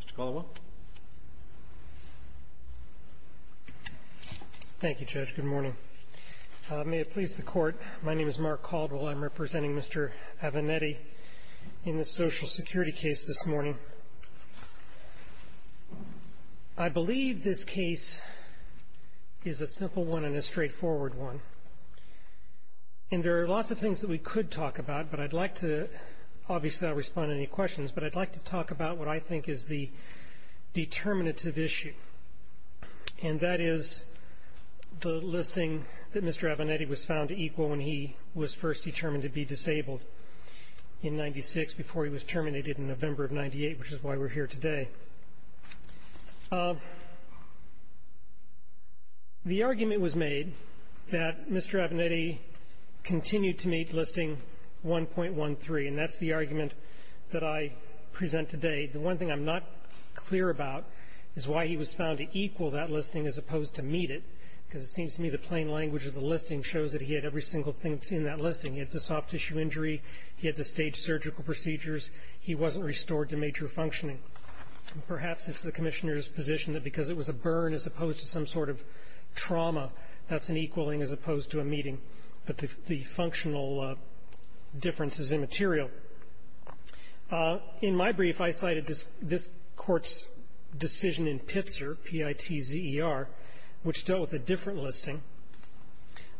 Mr. Caldwell, I'm representing Mr. Avenetti in the Social Security case this morning. I believe this case is a simple one and a straightforward one. There are lots of things that we could talk about, but I'd like to talk about what I think is the determinative issue. And that is the listing that Mr. Avenetti was found equal when he was first determined to be disabled in 1996 before he was terminated in November of 1998, which is why we're here today. The argument was made that Mr. Avenetti continued to meet listing 1.13, and that's the argument that I present today. The one thing I'm not clear about is why he was found to equal that listing as opposed to meet it, because it seems to me the plain language of the listing shows that he had every single thing that's in that listing. He had the soft tissue injury. He had the staged surgical procedures. He wasn't restored to major functioning. Perhaps it's the Commissioner's position that because it was a burn as opposed to some sort of trauma, that's an equaling as opposed to a meeting. But the functional difference is immaterial. In my brief, I cited this Court's decision in Pitzer, P-I-T-Z-E-R, which dealt with a different listing.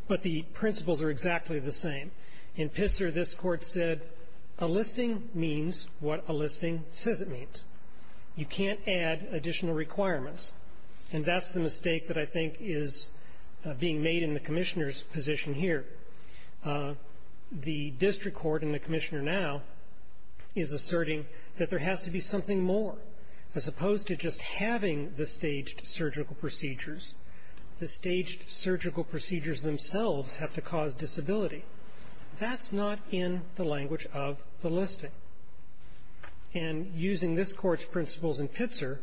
But the principles are exactly the same. In Pitzer, this Court said a listing means what a listing says it means. You can't add additional requirements. And that's the mistake that I think is being made in the Commissioner's position here. The district court and the Commissioner now is asserting that there has to be something more. As opposed to just having the staged surgical procedures, the staged surgical procedures themselves have to cause disability. That's not in the language of the listing. And using this Court's principles in Pitzer,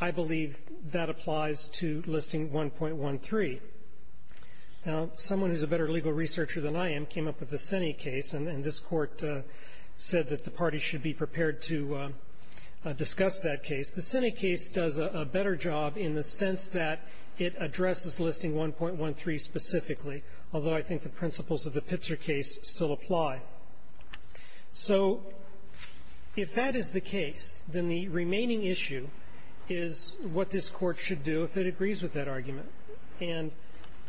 I believe that applies to Listing 1.13. Now, someone who's a better legal researcher than I am came up with the Senni case, and this Court said that the parties should be prepared to discuss that case. The Senni case does a better job in the sense that it addresses Listing 1.13 specifically, although I think the principles of the Pitzer case still apply. So if that is the case, then the remaining issue is what this Court should do if it agrees with that argument. And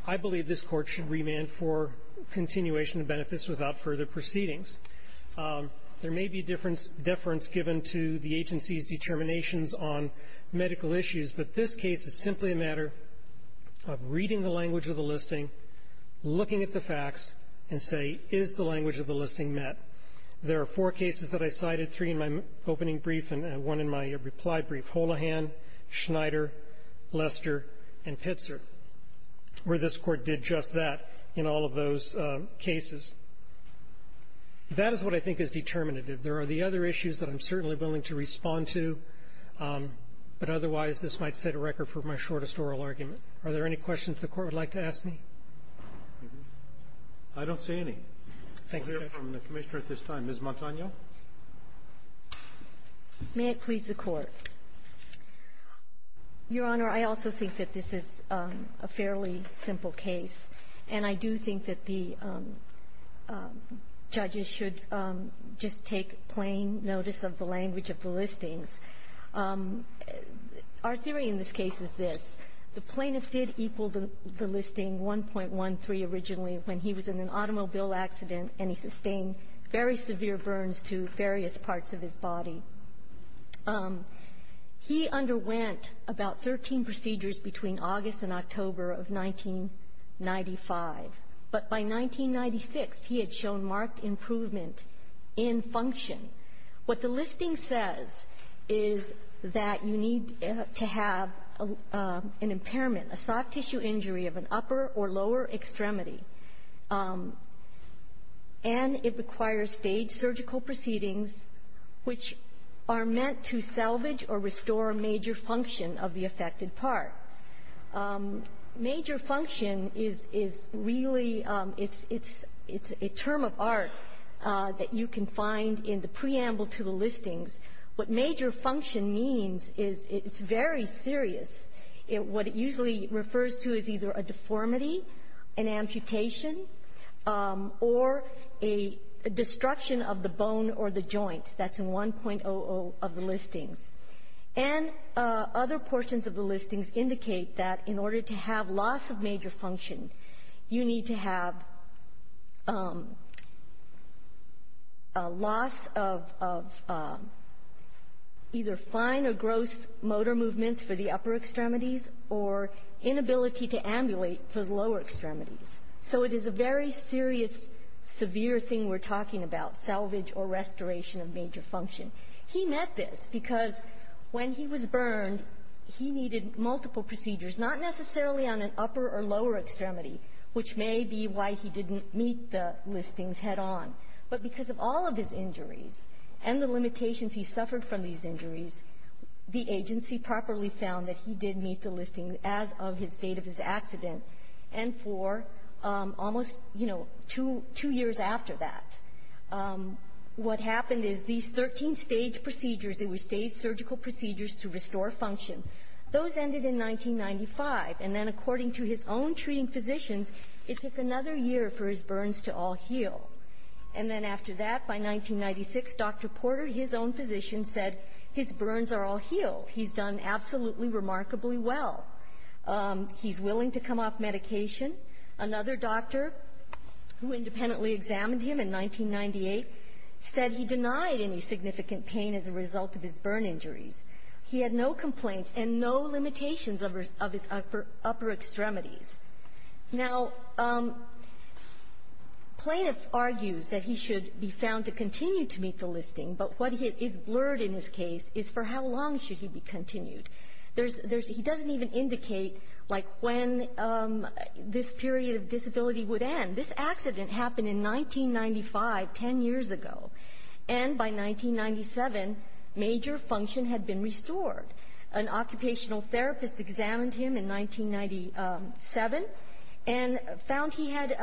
I believe this Court should remand for continuation of benefits without further proceedings. There may be deference given to the agency's determinations on medical issues, but this case is simply a matter of reading the language of the listing, looking at the facts, and say, is the language of the listing met? There are four cases that I cited, three in my opening brief and one in my reply brief, Holohan, Schneider, Lester, and Pitzer, where this Court did just that in all of those cases. That is what I think is determinative. There are the other issues that I'm certainly willing to respond to, but otherwise this might set a record for my shortest oral argument. Are there any questions the Court would like to ask me? I don't see any. We'll hear from the Commissioner at this time. Ms. Montano. May it please the Court. Your Honor, I also think that this is a fairly simple case, and I do think that the judges should just take plain notice of the language of the listings. Our theory in this case is this. The plaintiff did equal the listing 1.13 originally when he was in an automobile accident and he sustained very severe burns to various parts of his body. He underwent about 13 procedures between August and October of 1995, but by 1996, he had shown a marked improvement in function. What the listing says is that you need to have an impairment, a soft-tissue injury of an upper or lower extremity, and it requires staged surgical proceedings which are meant to salvage or restore major function of the affected part. Major function is really — it's a term of art that you can find in the preamble to the listings. What major function means is it's very serious. What it usually refers to is either a deformity, an amputation, or a destruction of the bone or the joint. That's in 1.00 of the listings. And other portions of the listings indicate that in order to have loss of major function, you need to have a loss of either fine or gross motor movements for the upper extremities or inability to ambulate for the lower extremities. So it is a very serious, severe thing we're talking about, salvage or restoration of major function. He met this because when he was burned, he needed multiple procedures, not necessarily on an upper or lower extremity, which may be why he didn't meet the listings head on. But because of all of his injuries and the limitations he suffered from these injuries, the agency properly found that he did meet the listings as of his date of his accident and for almost, you know, two years after that. What happened is these 13 stage procedures, they were stage surgical procedures to restore function, those ended in 1995. And then according to his own treating physicians, it took another year for his burns to all heal. And then after that, by 1996, Dr. Porter, his own physician, said his burns are all healed. He's done absolutely remarkably well. He's willing to come off medication. Another doctor, who independently examined him in 1998, said he denied any significant pain as a result of his burn injuries. He had no complaints and no limitations of his upper extremities. Now, plaintiff argues that he should be found to continue to meet the listing, but what is blurred in this case is for how long should he be continued. He doesn't even indicate, like, when this period of disability would end. This accident happened in 1995, 10 years ago. And by 1997, major function had been restored. An occupational therapist examined him in 1997 and found he had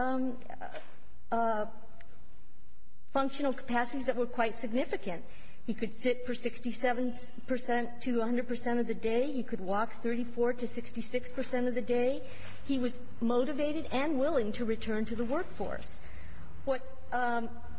functional capacities that were quite significant. He could sit for 67 percent to 100 percent of the day. He could walk 34 to 66 percent of the day. He was motivated and willing to return to the workforce. What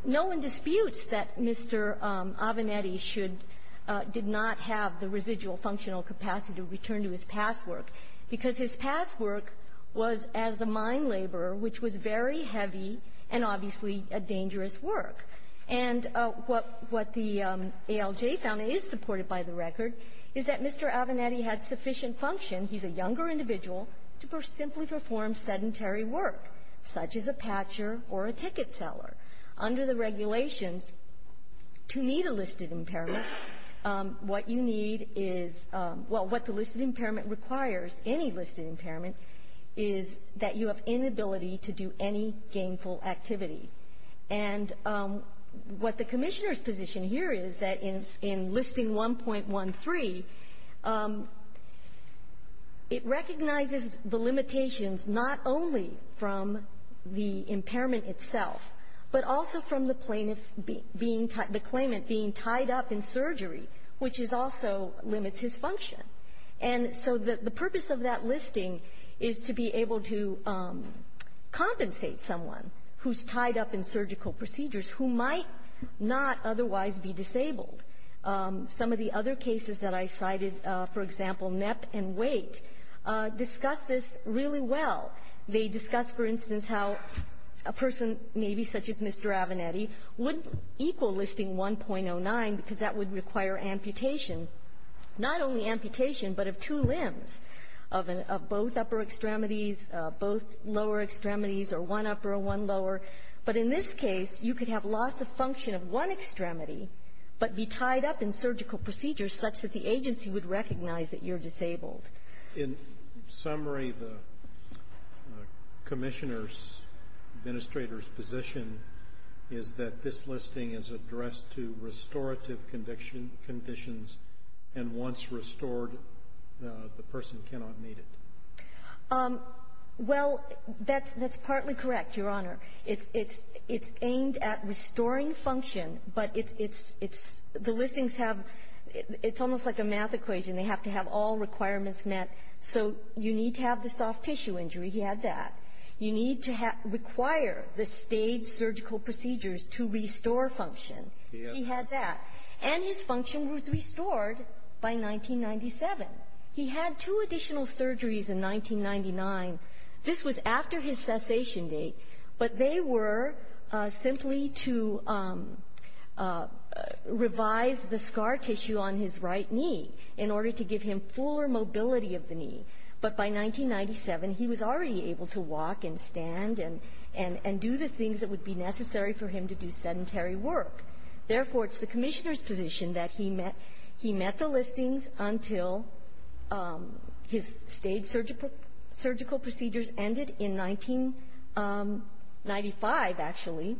no one disputes that Mr. Avenatti should — did not have the residual functional capacity to return to his past work, because his past work was as a mine laborer, which was very heavy and obviously a dangerous work. And what the ALJ found is supported by the record is that Mr. Avenatti had sufficient function, he's a younger individual, to simply perform sedentary work, such as a patcher or a ticket seller. Under the regulations, to meet a listed impairment, what you need is — well, what the listed impairment requires, any listed impairment, is that you have inability to do any gainful activity. And what the Commissioner's position here is that in Listing 1.13, it recognizes the limitations not only from the impairment itself, but also from the plaintiff being — the claimant being tied up in surgery, which is also — limits his function. And so the purpose of that listing is to be able to compensate someone who's tied up in surgical procedures who might not otherwise be disabled. Some of the other cases that I cited, for example, NEP and WAIT, discuss this really well. They discuss, for instance, how a person maybe such as Mr. Avenatti would equal Listing 1.09 because that would require amputation, not only amputation but of two limbs, of both upper extremities, both lower extremities, or one upper or one lower. But in this case, you could have loss of function of one extremity but be tied up in surgical procedures such that the agency would recognize that you're disabled. In summary, the Commissioner's, Administrator's, position is that this listing is addressed to restorative conditions, and once restored, the person cannot need it. Well, that's partly correct, Your Honor. It's aimed at restoring function, but it's — the listings have — it's almost like a math equation. They have to have all requirements met. So you need to have the soft tissue injury. He had that. You need to require the staged surgical procedures to restore function. He had that. And his function was restored by 1997. He had two additional surgeries in 1999. This was after his cessation date. But they were simply to revise the scar tissue on his right knee in order to give him fuller mobility of the knee. But by 1997, he was already able to walk and stand and — and do the things that would be necessary for him to do sedentary work. Therefore, it's the Commissioner's position that he met — he met the listings until his staged surgical procedures ended in 1995, actually.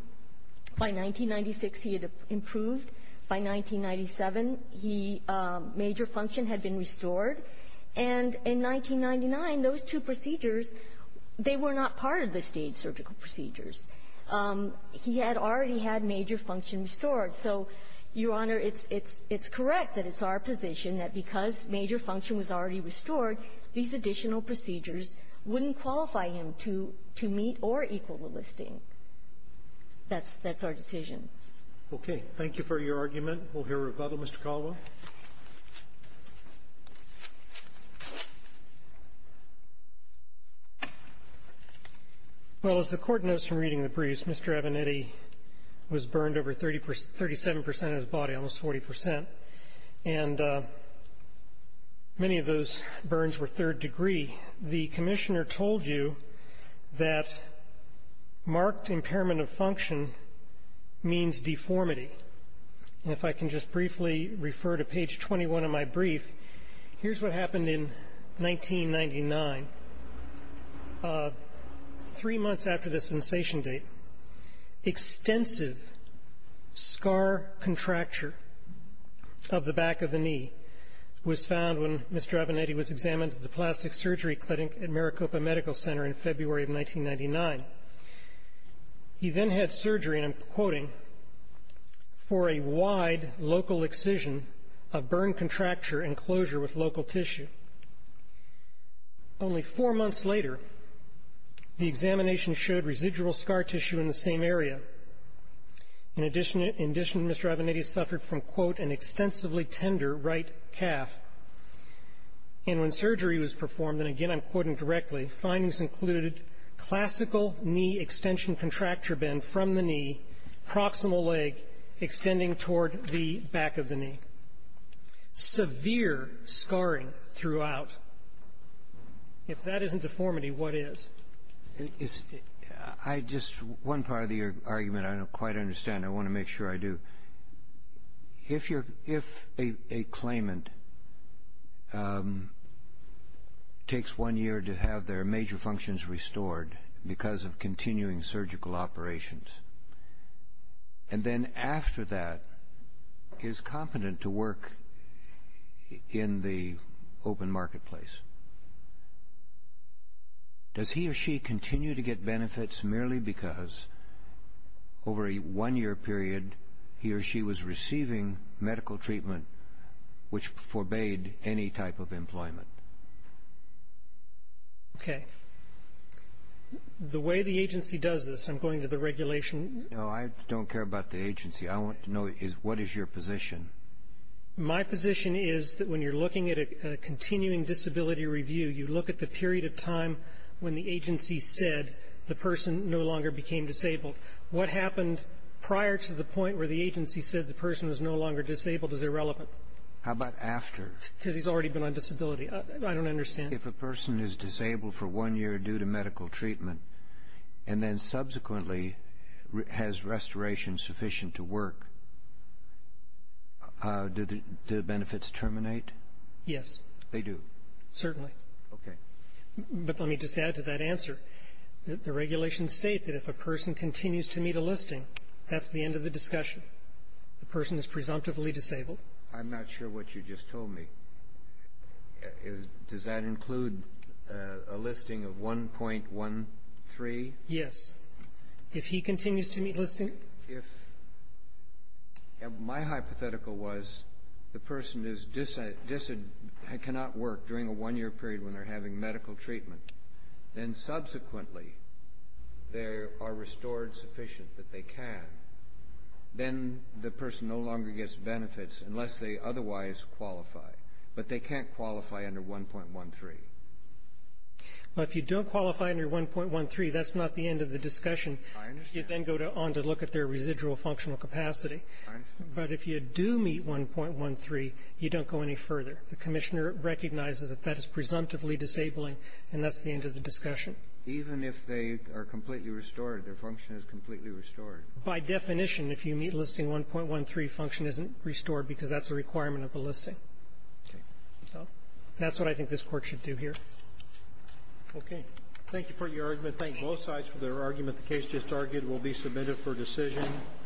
By 1996, he had improved. By 1997, he — major function had been restored. And in 1999, those two procedures, they were not part of the staged surgical procedures. He had already had major function restored. So, Your Honor, it's — it's — it's correct that it's our position that because major function was already restored, these additional procedures wouldn't qualify him to — to meet or equal the listing. That's — that's our decision. Okay. Thank you for your argument. We'll hear rebuttal. Mr. Caldwell. Well, as the Court knows from reading the briefs, Mr. Abinetti was burned over 30 percent of his body, almost 40 percent. And many of those burns were third degree. The Commissioner told you that marked impairment of function means deformity. And if I can just briefly refer to page 21 of my brief, here's what happened in 1999. Three months after the sensation date, extensive scar contracture of the back of the knee was found when Mr. Abinetti was examined at the Plastic Surgery Clinic at Maricopa Medical Center in February of 1999. He then had surgery, and I'm quoting, for a wide local excision of burn contracture and closure with local tissue. Only four months later, the examination showed residual scar tissue in the same area. In addition — in addition, Mr. Abinetti suffered from, quote, an extensively tender right calf. And when surgery was performed, and again I'm quoting directly, findings included classical knee extension contracture bend from the knee, proximal leg extending toward the back of the knee. Severe scarring throughout. If that isn't deformity, what is? It's — I just — one part of the argument I don't quite understand, I want to make sure I do. If you're — if a claimant takes one year to have their major functions restored because of continuing surgical operations, and then after that is competent to work in the open marketplace, does he or she continue to get benefits merely because over a one-year period he or she was receiving medical treatment which forbade any type of employment? Okay. The way the agency does this, I'm going to the regulation — No, I don't care about the agency. I want to know is what is your position? My position is that when you're looking at a continuing disability review, you look at the period of time when the agency said the person no longer became disabled. What happened prior to the point where the agency said the person was no longer disabled is irrelevant. How about after? Because he's already been on disability. I don't understand. If a person is disabled for one year due to medical treatment, and then subsequently has restoration sufficient to work, do the benefits terminate? Yes. They do? Certainly. Okay. But let me just add to that answer that the regulations state that if a person continues to meet a listing, that's the end of the discussion. The person is presumptively disabled. I'm not sure what you just told me. Does that include a listing of 1.13? Yes. If he continues to meet listing? If — my hypothetical was the person is — cannot work during a one-year period when they're having medical treatment, then subsequently they are restored sufficient that they can. Then the person no longer gets benefits unless they otherwise qualify. But they can't qualify under 1.13. Well, if you don't qualify under 1.13, that's not the end of the discussion. I understand. You then go on to look at their residual functional capacity. I understand. But if you do meet 1.13, you don't go any further. The Commissioner recognizes that that is presumptively disabling, and that's the end of the discussion. Even if they are completely restored, their function is completely restored? By definition, if you meet listing, 1.13 function isn't restored because that's a requirement of the listing. Okay. So that's what I think this Court should do here. Okay. Thank you for your argument. Thank both sides for their argument. The case just argued will be submitted for decision.